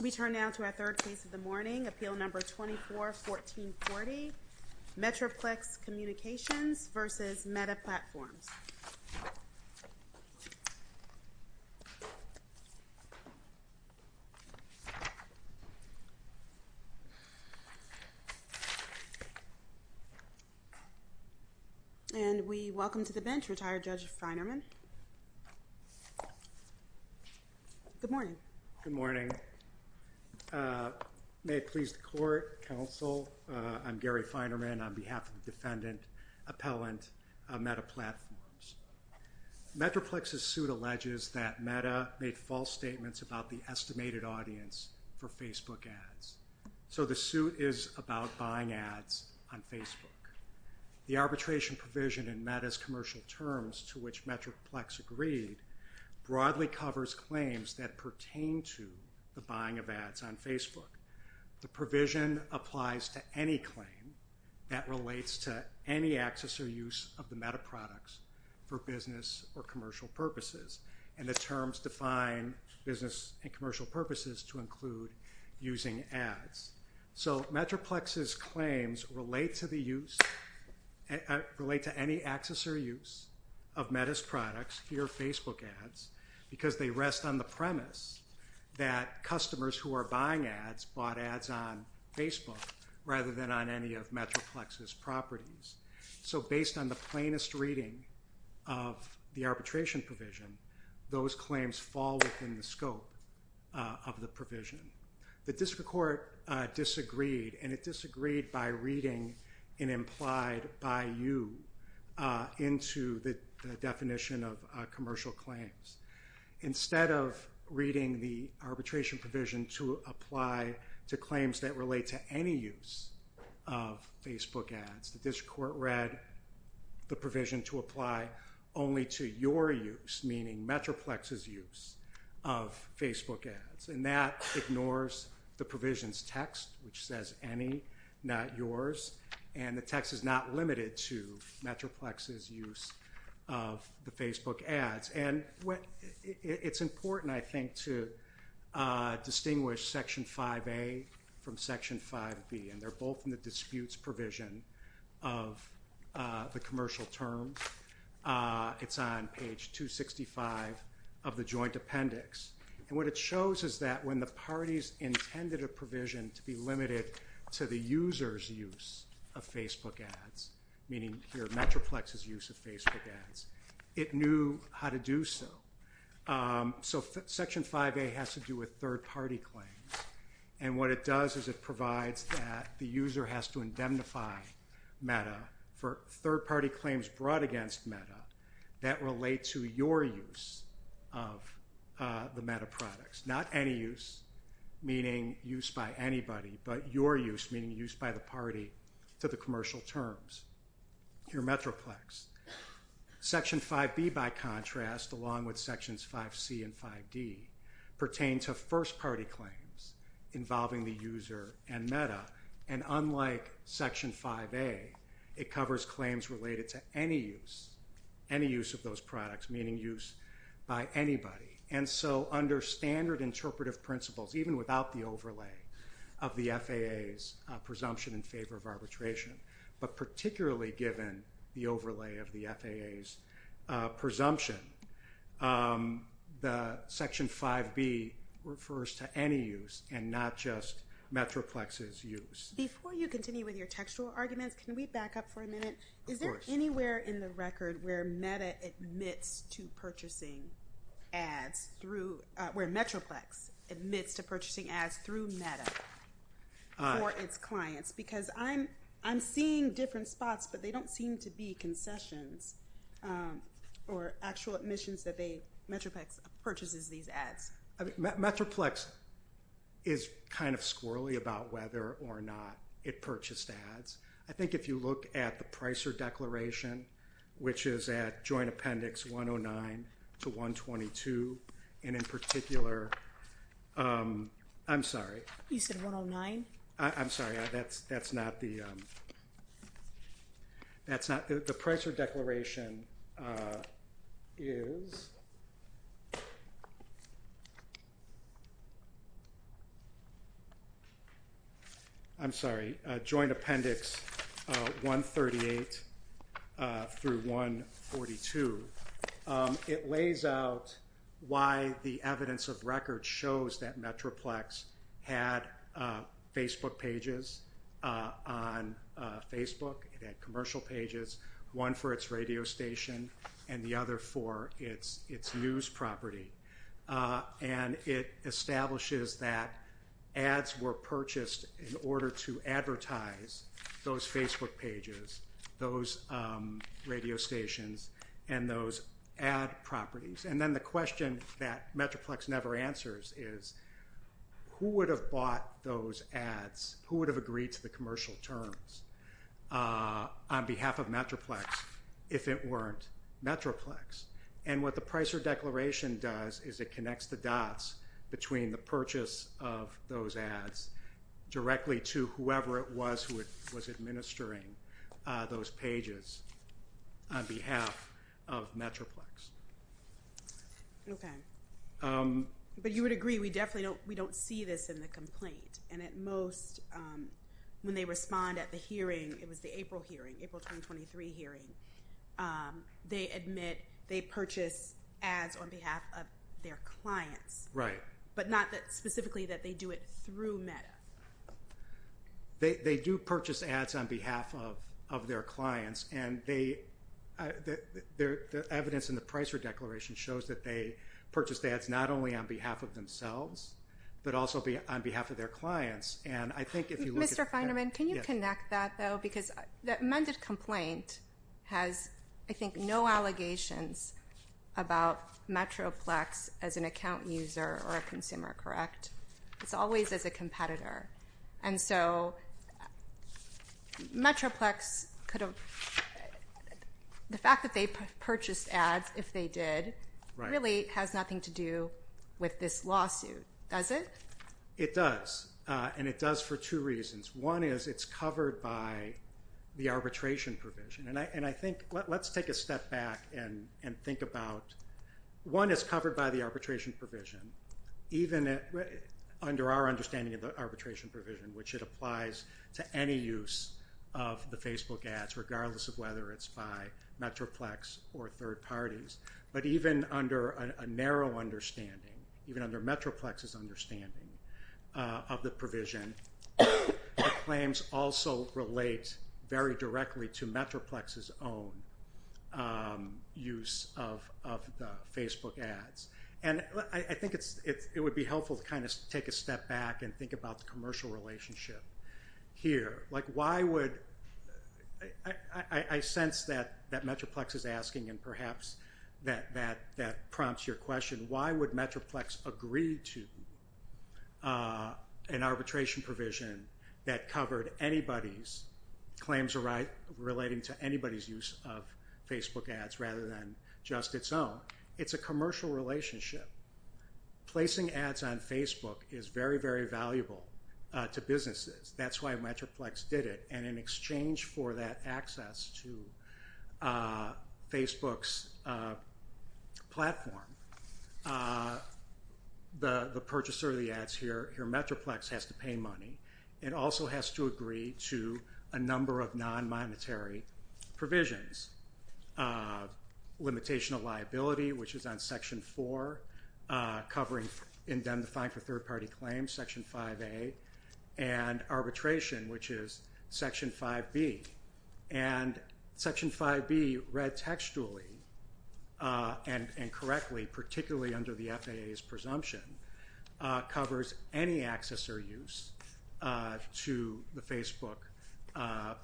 We turn now to our third case of the morning, Appeal Number 24-1440, Metroplex Communications v. Meta Platforms. And we welcome to the bench retired Judge Feinerman. Good morning. Good morning. May it please the court, counsel, I'm Gary Feinerman on behalf of the defendant, appellant, Meta Platforms. Metroplex's suit alleges that Meta made false statements about the estimated audience for Facebook ads. So the suit is about buying ads on Facebook. The arbitration provision in Meta's commercial terms, to which Metroplex agreed, broadly covers claims that pertain to the buying of ads on Facebook. The provision applies to any claim that relates to any access or use of the Meta products for business or commercial purposes. And the terms define business and commercial purposes to include using ads. So Metroplex's claims relate to the use, relate to any access or use of Meta's products, here Facebook ads, because they rest on the premise that customers who are buying ads bought ads on Facebook rather than on any of Metroplex's properties. So based on the plainest reading of the arbitration provision, those claims fall within the scope of the provision. The district court disagreed, and it disagreed by reading an implied by you into the definition of commercial claims. Instead of reading the arbitration provision to apply to claims that relate to any use of Facebook ads, the district court read the provision to apply only to your use, meaning Metroplex's use, of Facebook ads. And that ignores the provision's text, which says any, not yours. And the text is not limited to Metroplex's use of the Facebook ads. And it's important, I think, to distinguish Section 5A from Section 5B, and they're both in the disputes provision of the commercial terms. It's on page 265 of the joint appendix. And what it shows is that when the parties intended a provision to be limited to the user's use of Facebook ads, meaning here Metroplex's use of Facebook ads, it knew how to do so. So Section 5A has to do with third-party claims. And what it does is it provides that the user has to indemnify META for third-party claims brought against META that relate to your use of the META products. Not any use, meaning use by anybody, but your use, meaning use by the party to the commercial terms. Here Metroplex. Section 5B, by contrast, along with Sections 5C and 5D, pertain to first-party claims involving the user and META, and unlike Section 5A, it covers claims related to any use, any use of those products, meaning use by anybody. And so under standard interpretive principles, even without the overlay of the FAA's presumption in favor of arbitration, but particularly given the overlay of the FAA's presumption, the Section 5B refers to any use and not just Metroplex's use. Before you continue with your textual arguments, can we back up for a minute? Of course. Is there anywhere in the record where META admits to purchasing ads through, where Metroplex admits to purchasing ads through META for its clients? Because I'm seeing different spots, but they don't seem to be concessions or actual admissions that they, Metroplex purchases these ads. Metroplex is kind of squirrely about whether or not it purchased ads. I think if you look at the Pricer Declaration, which is at Joint Appendix 109 to 122, and in particular, I'm sorry. You said 109? I'm sorry. That's not the, that's not, the Pricer Declaration is, I'm sorry, Joint Appendix 138 through 142. It lays out why the evidence of record shows that Metroplex had Facebook pages on Facebook. It had commercial pages, one for its radio station and the other for its news property. And it establishes that ads were purchased in order to advertise those Facebook pages, those radio stations, and those ad properties. And then the question that Metroplex never answers is who would have bought those ads, who would have agreed to the commercial terms on behalf of Metroplex if it weren't Metroplex? And what the Pricer Declaration does is it connects the dots between the purchase of those pages on behalf of Metroplex. Okay. But you would agree we definitely don't, we don't see this in the complaint. And at most, when they respond at the hearing, it was the April hearing, April 2023 hearing, they admit they purchase ads on behalf of their clients. Right. But not that specifically that they do it through Meta. They do purchase ads on behalf of their clients, and the evidence in the Pricer Declaration shows that they purchase ads not only on behalf of themselves, but also on behalf of their clients. And I think if you look at that. Mr. Feinerman, can you connect that, though? Because the amended complaint has, I think, no allegations about Metroplex as an account user or a consumer, correct? It's always as a competitor. And so Metroplex could have, the fact that they purchased ads, if they did, really has nothing to do with this lawsuit, does it? It does. And it does for two reasons. One is it's covered by the arbitration provision. And I think, let's take a step back and think about, one, it's covered by the arbitration provision. Even under our understanding of the arbitration provision, which it applies to any use of the Facebook ads, regardless of whether it's by Metroplex or third parties. But even under a narrow understanding, even under Metroplex's understanding of the provision, the claims also relate very directly to Metroplex's own use of the Facebook ads. And I think it would be helpful to kind of take a step back and think about the commercial relationship here. I sense that Metroplex is asking, and perhaps that prompts your question, why would Metroplex agree to an arbitration provision that covered anybody's claims relating to anybody's use of Facebook ads, rather than just its own? It's a commercial relationship. Placing ads on Facebook is very, very valuable to businesses. That's why Metroplex did it. And in exchange for that access to Facebook's platform, the purchaser of the ads here, Metroplex has to pay money. It also has to agree to a number of non-monetary provisions. Limitation of liability, which is on Section 4, covering indemnifying for third-party claims, Section 5A, and arbitration, which is Section 5B. And Section 5B, read textually and correctly, particularly under the FAA's presumption, covers any access or use to the Facebook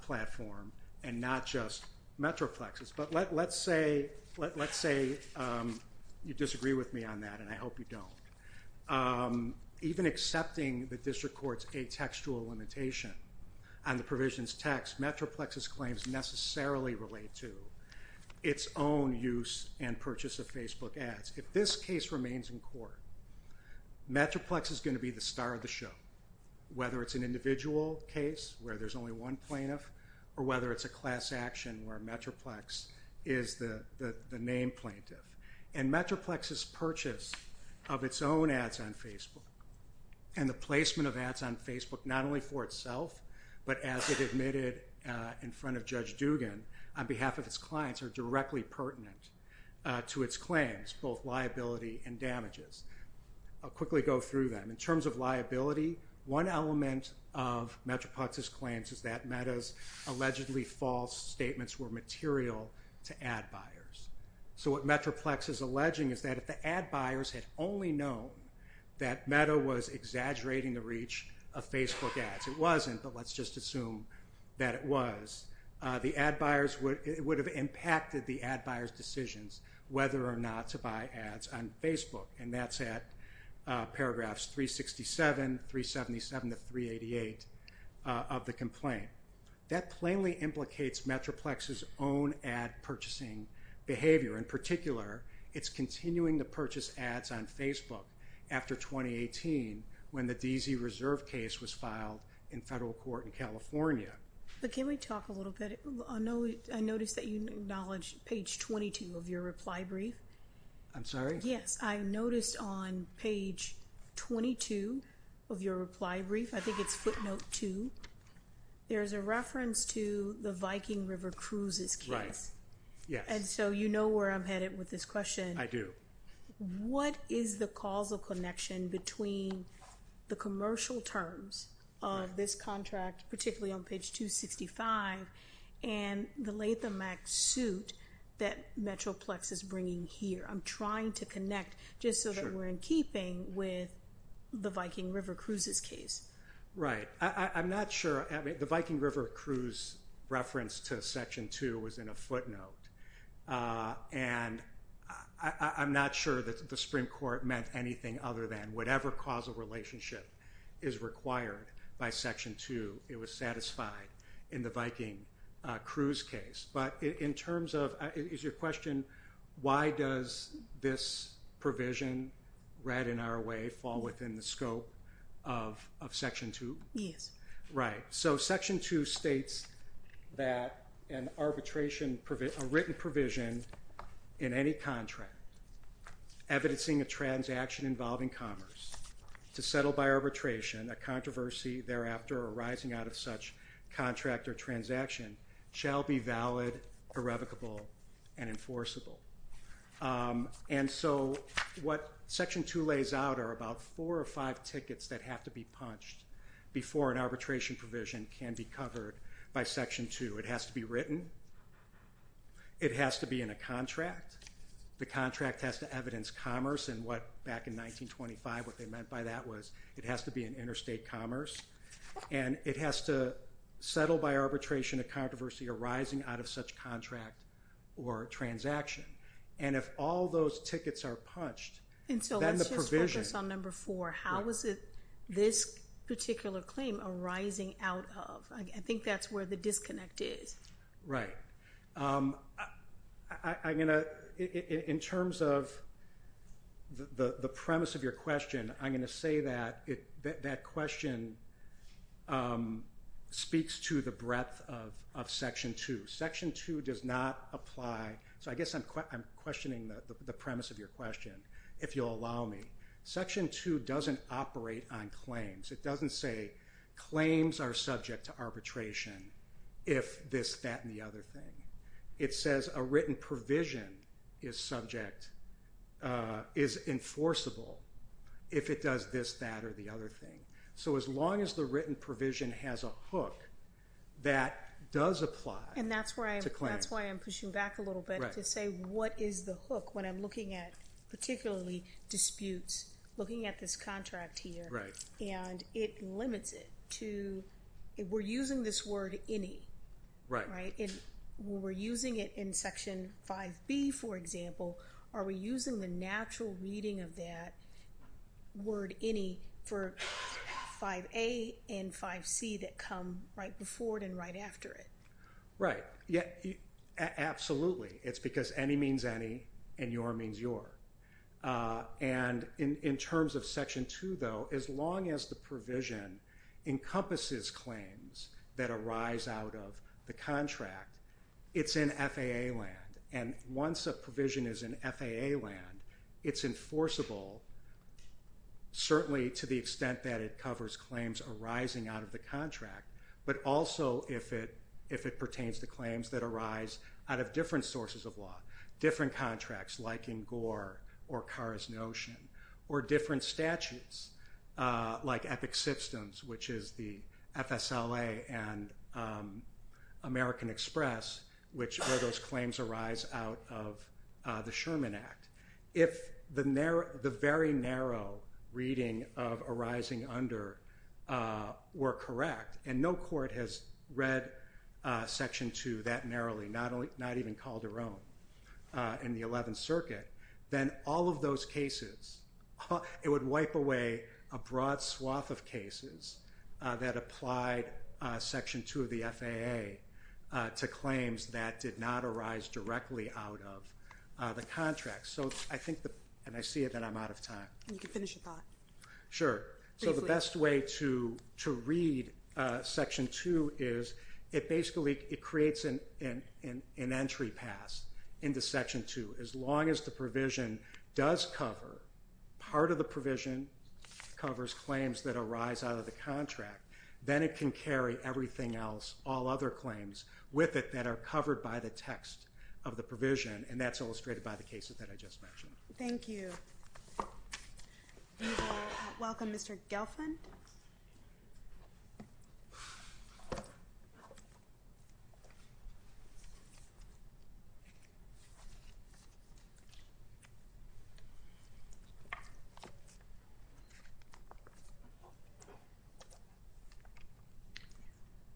platform, and not just Metroplex's. But let's say you disagree with me on that, and I hope you don't. Even accepting the district court's atextual limitation on the provision's text, Metroplex's claims necessarily relate to its own use and purchase of Facebook ads. If this case remains in court, Metroplex is going to be the star of the show, whether it's an individual case where there's only one plaintiff, or whether it's a class action where Metroplex is the named plaintiff. And Metroplex's purchase of its own ads on Facebook and the placement of ads on Facebook, not only for itself, but as it admitted in front of Judge Dugan, on behalf of its clients, are directly pertinent to its claims, both liability and damages. I'll quickly go through them. In terms of liability, one element of Metroplex's claims is that Meta's allegedly false statements were material to ad buyers. So what Metroplex is alleging is that if the ad buyers had only known that Meta was exaggerating the reach of Facebook ads, it wasn't, but let's just assume that it was, the ad buyers would have impacted the ad buyers' decisions whether or not to buy ads on Facebook. And that's at paragraphs 367, 377 to 388 of the complaint. That plainly implicates Metroplex's own ad purchasing behavior. In particular, it's continuing to purchase ads on Facebook after 2018, when the DZ Reserve case was filed in federal court in California. But can we talk a little bit, I noticed that you acknowledged page 22 of your reply brief. I'm sorry? Yes, I noticed on page 22 of your reply brief, I think it's footnote two, there's a reference to the Viking River Cruises case. Right, yes. And so you know where I'm headed with this question. I do. What is the causal connection between the commercial terms of this contract, particularly on page 265, and the Latham Act suit that Metroplex is bringing here? I'm trying to connect just so that we're in keeping with the Viking River Cruises case. Right. I'm not sure. The Viking River Cruises reference to section two was in a footnote. And I'm not sure that the Supreme Court meant anything other than whatever causal relationship is required by section two, it was satisfied in the Viking Cruise case. But in terms of, is your question, why does this provision read in our way fall within the scope of section two? Yes. Right. So section two states that a written provision in any contract evidencing a transaction involving commerce to settle by arbitration, a controversy thereafter arising out of such contract or transaction, shall be valid, irrevocable, and enforceable. And so what section two lays out are about four or five tickets that have to be covered by section two. It has to be written. It has to be in a contract. The contract has to evidence commerce and what back in 1925, what they meant by that was it has to be an interstate commerce. And it has to settle by arbitration a controversy arising out of such contract or transaction. And if all those tickets are punched, then the provision. How is it this particular claim arising out of? I think that's where the disconnect is. I'm going to, in terms of the premise of your question, I'm going to say that that question speaks to the breadth of section two. Section two does not apply. So I guess I'm questioning the premise of your question, if you'll allow me. Section two doesn't operate on claims. It doesn't say claims are subject to arbitration if this, that, and the other thing. It says a written provision is subject, is enforceable if it does this, that, or the other thing. So as long as the written provision has a hook, that does apply to claims. And that's why I'm pushing back a little bit to say what is the hook when I'm particularly disputes looking at this contract here. And it limits it to, we're using this word any. Right. And we're using it in section 5B, for example. Are we using the natural reading of that word any for 5A and 5C that come right before it and right after it? Right. Absolutely. It's because any means any and your means your. And in terms of section two, though, as long as the provision encompasses claims that arise out of the contract, it's in FAA land. And once a provision is in FAA land, it's enforceable, certainly to the extent that it covers claims arising out of the contract, but also if it pertains to claims that arise out of different sources of law, different contracts like in Gore or Carr's notion, or different statutes like Epic Systems, which is the FSLA and American Express, which are those claims arise out of the Sherman Act. If the very narrow reading of arising under were correct, and no court has read section two that narrowly, not even Calderon in the 11th Circuit, then all of those cases, it would wipe away a broad swath of cases that applied section two of the FAA to claims that did not arise directly out of the contract. And I see that I'm out of time. You can finish your thought. Sure. So the best way to read section two is it basically creates an entry pass into section two. As long as the provision does cover, part of the provision covers claims that arise out of the contract, then it can carry everything else, all other claims with it, that are covered by the text of the provision, and that's illustrated by the cases that I just mentioned. Thank you. We will welcome Mr. Gelfand.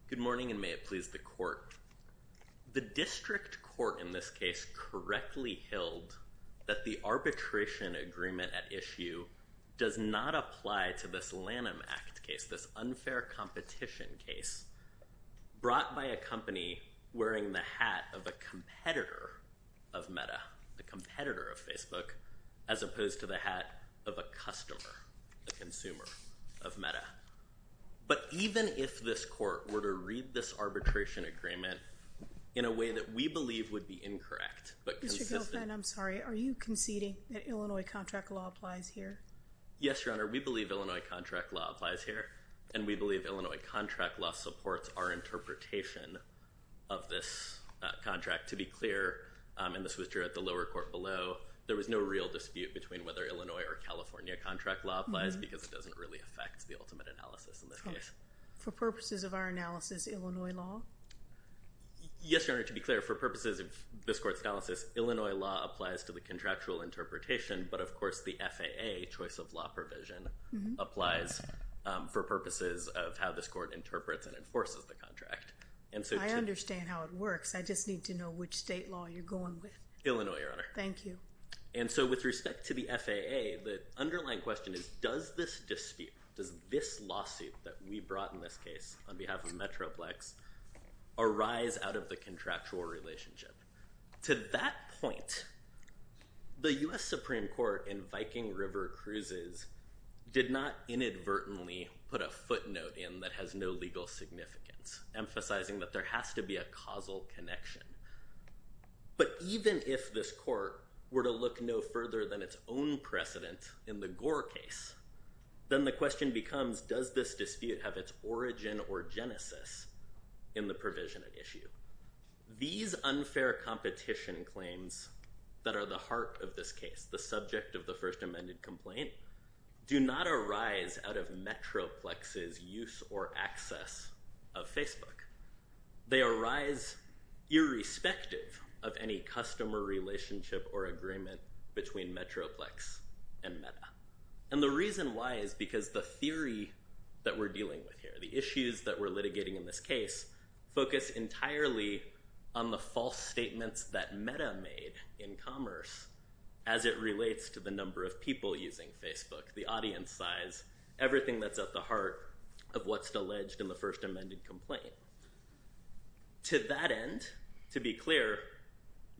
Good morning, and may it please the Court. The district court in this case correctly held that the arbitration agreement at issue does not apply to this Lanham Act case, this unfair competition case, brought by a company wearing the hat of a competitor of Meta, the competitor of Facebook, as opposed to the hat of a customer, a consumer of Meta. But even if this court were to read this arbitration agreement in a way that we believe would be incorrect but consistent. Mr. Gelfand, I'm sorry. Are you conceding that Illinois contract law applies here? Yes, Your Honor. We believe Illinois contract law applies here, and we believe Illinois contract law supports our interpretation of this contract. To be clear, and this was drew at the lower court below, there was no real dispute between whether Illinois or California contract law applies because it doesn't really affect the ultimate analysis in this case. For purposes of our analysis, Illinois law? Yes, Your Honor. To be clear, for purposes of this court's analysis, Illinois law applies to the contractual interpretation, but of course the FAA choice of law provision applies for purposes of how this court interprets and enforces the contract. I understand how it works. I just need to know which state law you're going with. Illinois, Your Honor. Thank you. And so with respect to the FAA, the underlying question is does this dispute, does this lawsuit that we brought in this case on behalf of Metroplex arise out of the contractual relationship? To that point, the U.S. Supreme Court in Viking River Cruises did not inadvertently put a footnote in that has no legal significance, emphasizing that there has to be a causal connection. But even if this court were to look no further than its own precedent in the Gore case, then the question becomes does this dispute have its origin or genesis in the provision at issue? These unfair competition claims that are the heart of this case, the subject of the first amended complaint, do not arise out of Metroplex's use or access of Facebook. They arise irrespective of any customer relationship or agreement between Metroplex and Meta. And the reason why is because the theory that we're dealing with here, the issues that we're litigating in this case, focus entirely on the false statements that Meta made in commerce as it relates to the number of people using Facebook, the audience size, everything that's at the heart of what's alleged in the first amended complaint. To that end, to be clear,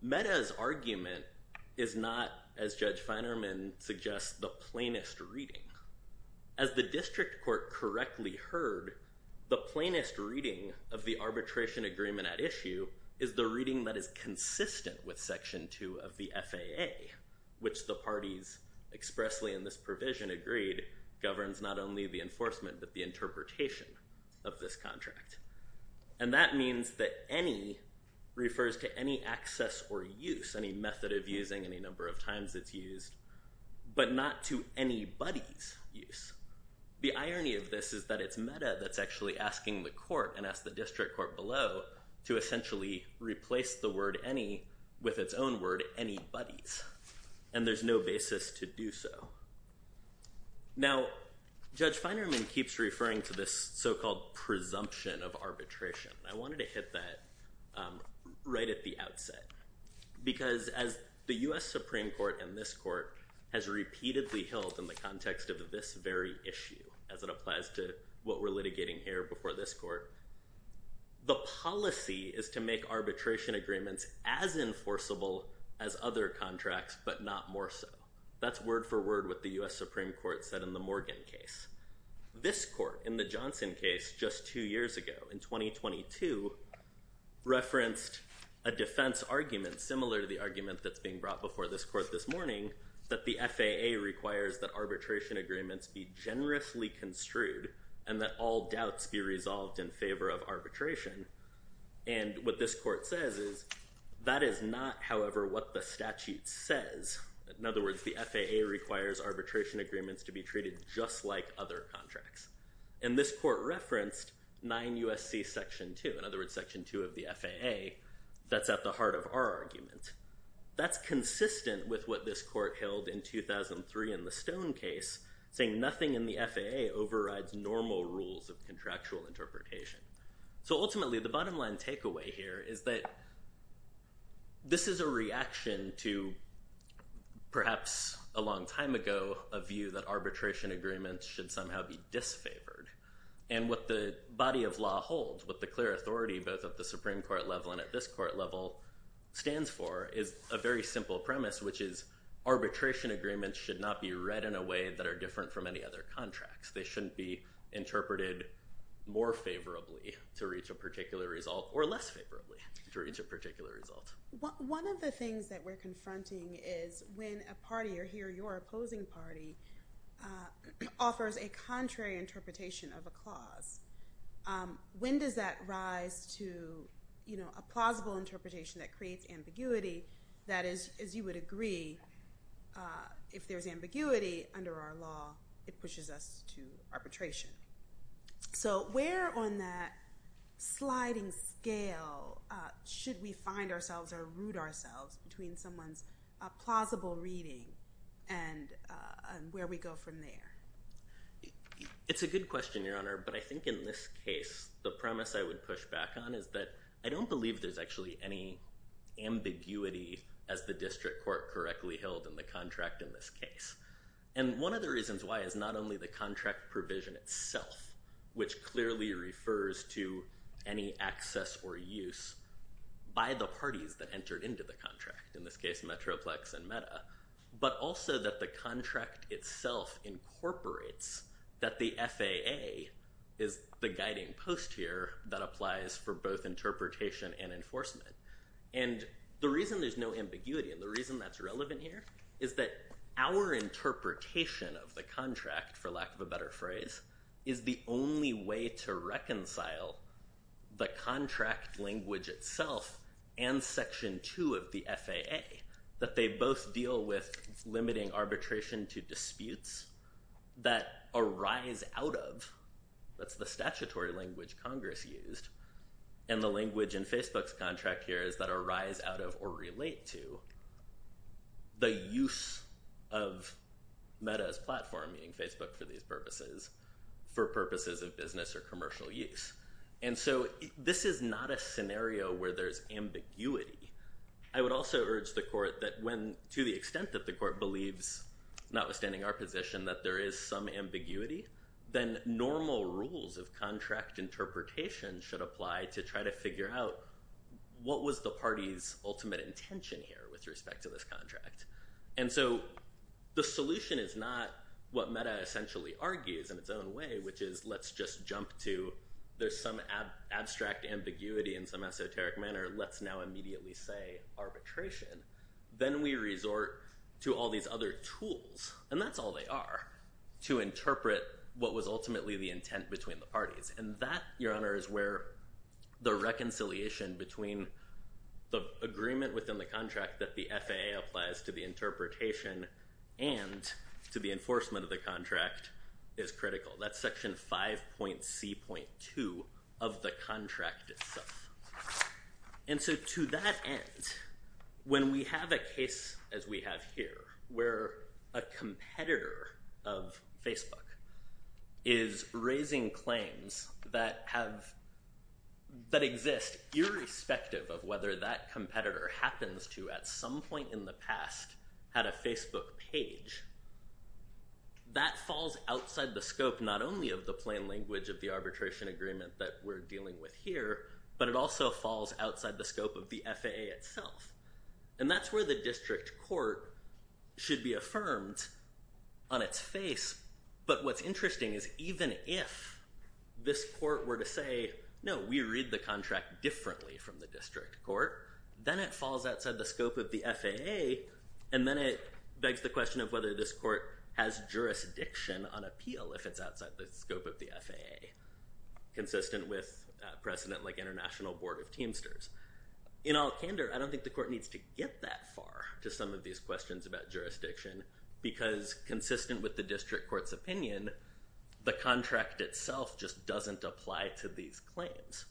Meta's argument is not, as Judge Feinerman suggests, the plainest reading. As the district court correctly heard, the plainest reading of the arbitration agreement at issue is the reading that is consistent with Section 2 of the FAA, which the parties expressly in this provision agreed governs not only the enforcement but the interpretation of this contract. And that means that any refers to any access or use, any method of using, any number of times it's used, but not to anybody's use. The irony of this is that it's Meta that's actually asking the court and ask the district court below to essentially replace the word any with its own word anybody's. And there's no basis to do so. Now, Judge Feinerman keeps referring to this so-called presumption of arbitration. I wanted to hit that right at the outset, because as the U.S. Supreme Court and this court has repeatedly held in the context of this very issue, as it applies to what we're litigating here before this court, the policy is to make arbitration agreements as enforceable as other contracts, but not more so. That's word for word with the U.S. Supreme Court said in the Morgan case. This court in the Johnson case just two years ago, in 2022, referenced a defense argument similar to the argument that's being brought before this court this morning, that the FAA requires that arbitration agreements be generously construed and that all doubts be resolved in favor of arbitration. And what this court says is, that is not, however, what the statute says. In other words, the FAA requires arbitration agreements to be treated just like other contracts. And this court referenced 9 U.S.C. Section 2, in other words, Section 2 of the FAA, that's at the heart of our argument. That's consistent with what this court held in 2003 in the Stone case, saying nothing in the FAA overrides normal rules of contractual interpretation. So ultimately, the bottom line takeaway here is that this is a reaction to perhaps a long time ago, a view that arbitration agreements should somehow be disfavored. And what the body of law holds, what the clear authority, both at the Supreme Court level and at this court level, stands for is a very simple premise, which is arbitration agreements should not be read in a way that are different from any other contracts. They shouldn't be interpreted more favorably to reach a particular result or less favorably to reach a particular result. One of the things that we're confronting is when a party, or he or your opposing party, offers a contrary interpretation of a clause, when does that rise to a plausible interpretation that creates ambiguity that is, as you would agree, if there's ambiguity under our law, it pushes us to arbitration. So where on that sliding scale should we find ourselves or root ourselves between someone's plausible reading and where we go from there? It's a good question, Your Honor, but I think in this case, the premise I would push back on is that I don't believe there's actually any ambiguity as the district court correctly held in the contract in this case. And one of the reasons why is not only the contract provision itself, which clearly refers to any access or use by the parties that entered into the contract, in this case Metroplex and Meta, but also that the contract itself incorporates that the FAA is the guiding post here that applies for both interpretation and enforcement. And the reason there's no ambiguity and the reason that's relevant here is that our interpretation of the contract, for lack of a better phrase, is the only way to reconcile the contract language itself and Section 2 of the FAA, that they both deal with limiting arbitration to disputes that arise out of, that's the statutory language Congress used, and the language in Facebook's contract here is that arise out of or relate to the use of Meta's platform, meaning Facebook for these purposes, for purposes of business or commercial use. And so this is not a scenario where there's ambiguity. I would also urge the court that when, to the extent that the court believes, notwithstanding our position, that there is some ambiguity, then normal rules of contract interpretation should apply to try to figure out what was the party's ultimate intention here with respect to this contract. And so the solution is not what Meta essentially argues in its own way, which is let's just jump to there's some abstract ambiguity in some esoteric manner, let's now immediately say arbitration. Then we resort to all these other tools, and that's all they are, to interpret what was ultimately the intent between the parties. And that, Your Honor, is where the reconciliation between the agreement within the contract that the FAA applies to the interpretation and to the enforcement of the contract is critical. That's Section 5.C.2 of the contract itself. And so to that end, when we have a case as we have here where a competitor of Facebook is raising claims that exist irrespective of whether that competitor happens to at some point in the past had a Facebook page, that falls outside the scope not only of the plain language of the arbitration agreement that we're dealing with here, but it also falls outside the scope of the FAA itself. And that's where the district court should be affirmed on its face. But what's interesting is even if this court were to say, no, we read the contract differently from the district court, then it falls outside the scope of the FAA, and then it begs the question of whether this court has jurisdiction on appeal if it's outside the scope of the FAA, consistent with precedent like International Board of Teamsters. In all candor, I don't think the court needs to get that far to some of these questions about jurisdiction because consistent with the district court's opinion, the contract itself just doesn't apply to these claims.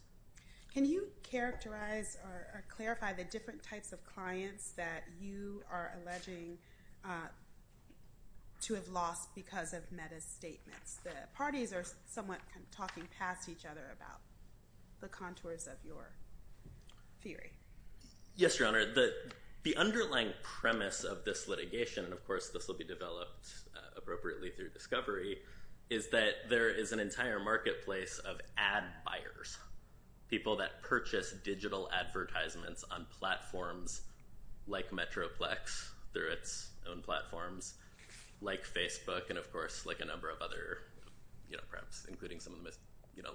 Can you characterize or clarify the different types of clients that you are alleging to have lost because of meta statements? The parties are somewhat talking past each other about the contours of your theory. Yes, Your Honor. The underlying premise of this litigation, and of course this will be developed appropriately through discovery, is that there is an entire marketplace of ad buyers, people that purchase digital advertisements on platforms like Metroplex through its own platforms, like Facebook, and of course like a number of other, perhaps including some of the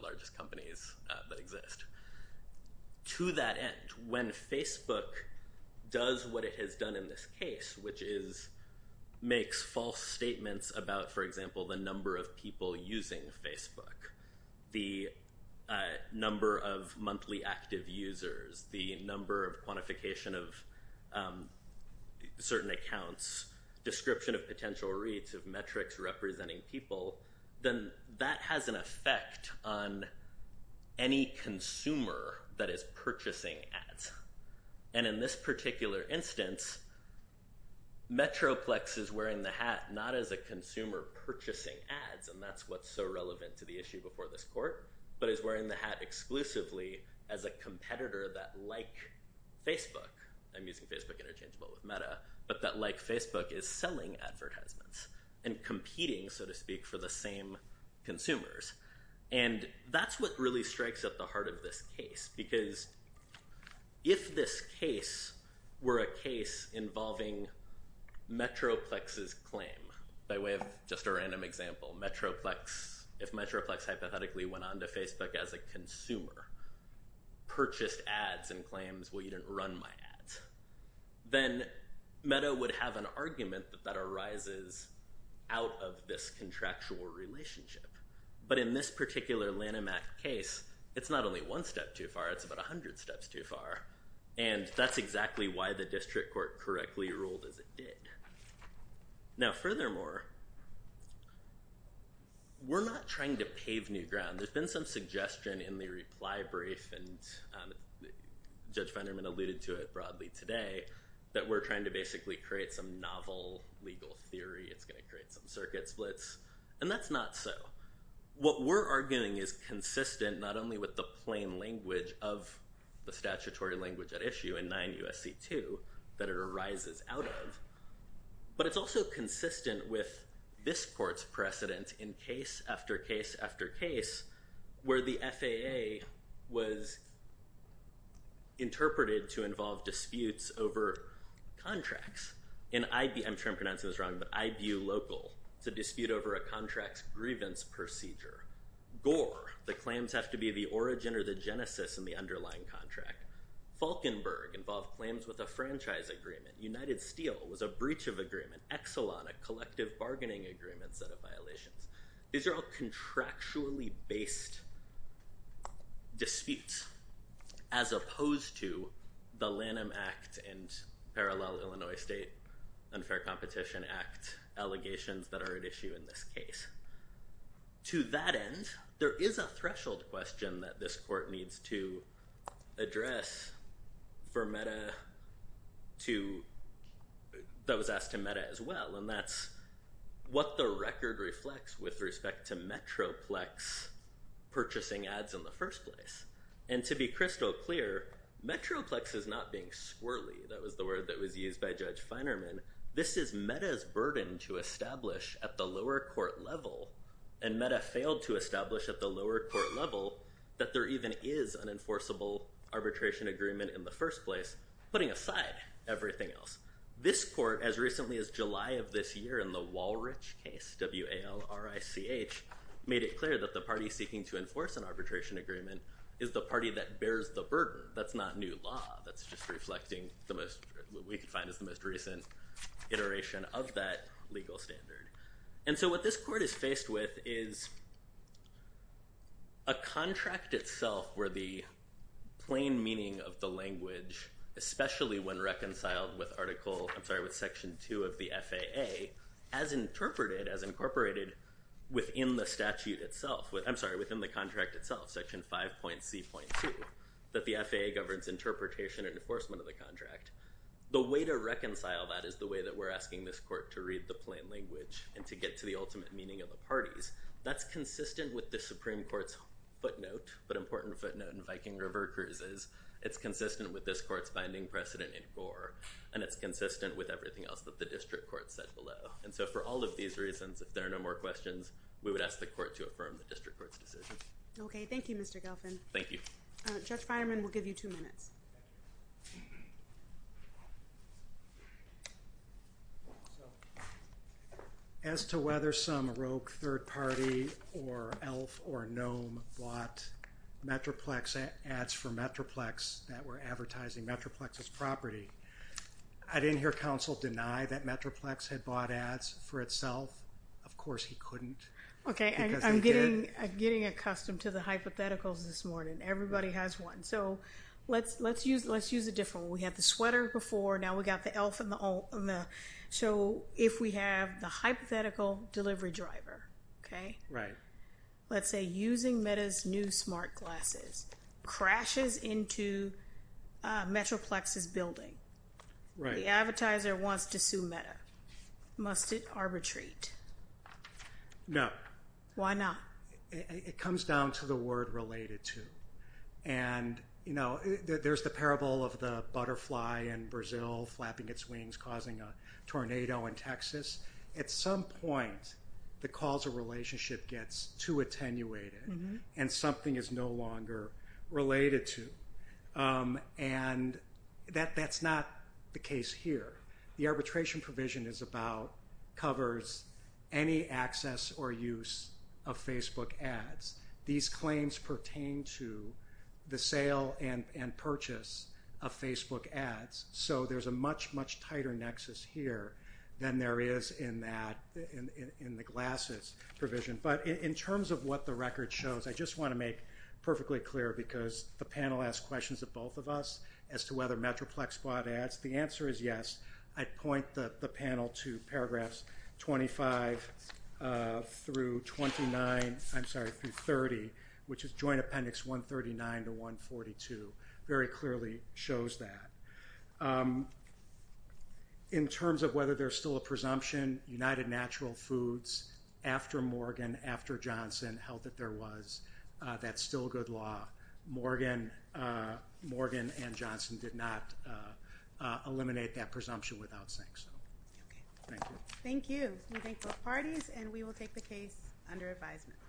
largest companies that exist. To that end, when Facebook does what it has done in this case, which is makes false statements about, for example, the number of people using Facebook, the number of monthly active users, the number of quantification of certain accounts, description of potential reads of metrics representing people, then that has an effect on any consumer that is purchasing ads. In this particular instance, Metroplex is wearing the hat not as a consumer purchasing ads, and that's what's so relevant to the issue before this court, but is wearing the hat exclusively as a competitor that, like Facebook, I'm using Facebook interchangeable with meta, but that like Facebook is selling advertisements and competing, so to speak, for the same consumers. And that's what really strikes at the heart of this case, because if this case were a case involving Metroplex's claim, by way of just a random example, if Metroplex hypothetically went on to Facebook as a consumer, purchased ads and claims, well, you didn't run my ads, then meta would have an argument that that arises out of this contractual relationship. But in this particular Lanham Act case, it's not only one step too far, it's about 100 steps too far, and that's exactly why the district court correctly ruled as it did. Now, furthermore, we're not trying to pave new ground. There's been some suggestion in the reply brief, and Judge Venderman alluded to it broadly today, that we're trying to basically create some novel legal theory. It's going to create some circuit splits, and that's not so. What we're arguing is consistent not only with the plain language of the statutory language at issue in 9 U.S.C. 2 that it arises out of, but it's also consistent with this court's precedent in case after case after case where the FAA was interpreted to involve disputes over contracts. I'm sure I'm pronouncing this wrong, but IBU Local. It's a dispute over a contract's grievance procedure. Gore, the claims have to be the origin or the genesis in the underlying contract. Falkenberg involved claims with a franchise agreement. United Steel was a breach of agreement. Exelon, a collective bargaining agreement set of violations. These are all contractually based disputes as opposed to the Lanham Act and parallel Illinois State Unfair Competition Act allegations that are at issue in this case. To that end, there is a threshold question that this court needs to address for Metta to that was asked to Metta as well, and that's what the record reflects with respect to Metroplex purchasing ads in the first place. And to be crystal clear, Metroplex is not being squirrely. That was the word that was used by Judge Finerman. This is Metta's burden to establish at the lower court level, and Metta failed to establish at the lower court level that there even is an enforceable arbitration agreement in the first place, putting aside everything else. This court, as recently as July of this year in the Walrich case, W-A-L-R-I-C-H, made it clear that the party seeking to enforce an arbitration agreement is the party that bears the burden. That's not new law. That's just reflecting what we could find as the most recent iteration of that legal standard. And so what this court is faced with is a contract itself where the plain meaning of the language, especially when reconciled with Article – I'm sorry, with Section 2 of the FAA, as interpreted, as incorporated within the statute itself – I'm sorry, within the contract itself, Section 5.C.2, that the FAA governs interpretation and enforcement of the contract. The way to reconcile that is the way that we're asking this court to read the plain language and to get to the ultimate meaning of the parties. That's consistent with the Supreme Court's footnote, but important footnote, in Viking River Cruises. It's consistent with this court's binding precedent in Gore, and it's consistent with everything else that the district court said below. And so for all of these reasons, if there are no more questions, we would ask the court to affirm the district court's decision. Okay. Thank you, Mr. Gelfand. Thank you. Judge Finerman, we'll give you two minutes. As to whether some rogue third party or elf or gnome bought Metroplex ads for Metroplex that were advertising Metroplex's property, I didn't hear counsel deny that Metroplex had bought ads for itself. Of course he couldn't. Okay. Because they did. I'm getting accustomed to the hypotheticals this morning. Everybody has one. So let's use a different one. We had the sweater before. Now we've got the elf and the gnome. So if we have the hypothetical delivery driver, okay? Right. Let's say using Meta's new smart glasses crashes into Metroplex's building. Right. The advertiser wants to sue Meta. Must it arbitrate? No. Why not? It comes down to the word related to. And, you know, there's the parable of the butterfly in Brazil flapping its wings causing a tornado in Texas. At some point the causal relationship gets too attenuated and something is no longer related to. And that's not the case here. The arbitration provision is about covers any access or use of Facebook ads. These claims pertain to the sale and purchase of Facebook ads. So there's a much, much tighter nexus here than there is in the glasses provision. But in terms of what the record shows, I just want to make perfectly clear, because the panel asked questions of both of us as to whether Metroplex bought ads. The answer is yes. I'd point the panel to paragraphs 25 through 29, I'm sorry, through 30, which is Joint Appendix 139 to 142. Very clearly shows that. In terms of whether there's still a presumption, United Natural Foods, after Morgan, after Johnson, held that there was, that's still good law. Morgan and Johnson did not eliminate that presumption without saying so. Thank you. Thank you. We thank both parties and we will take the case under advisement.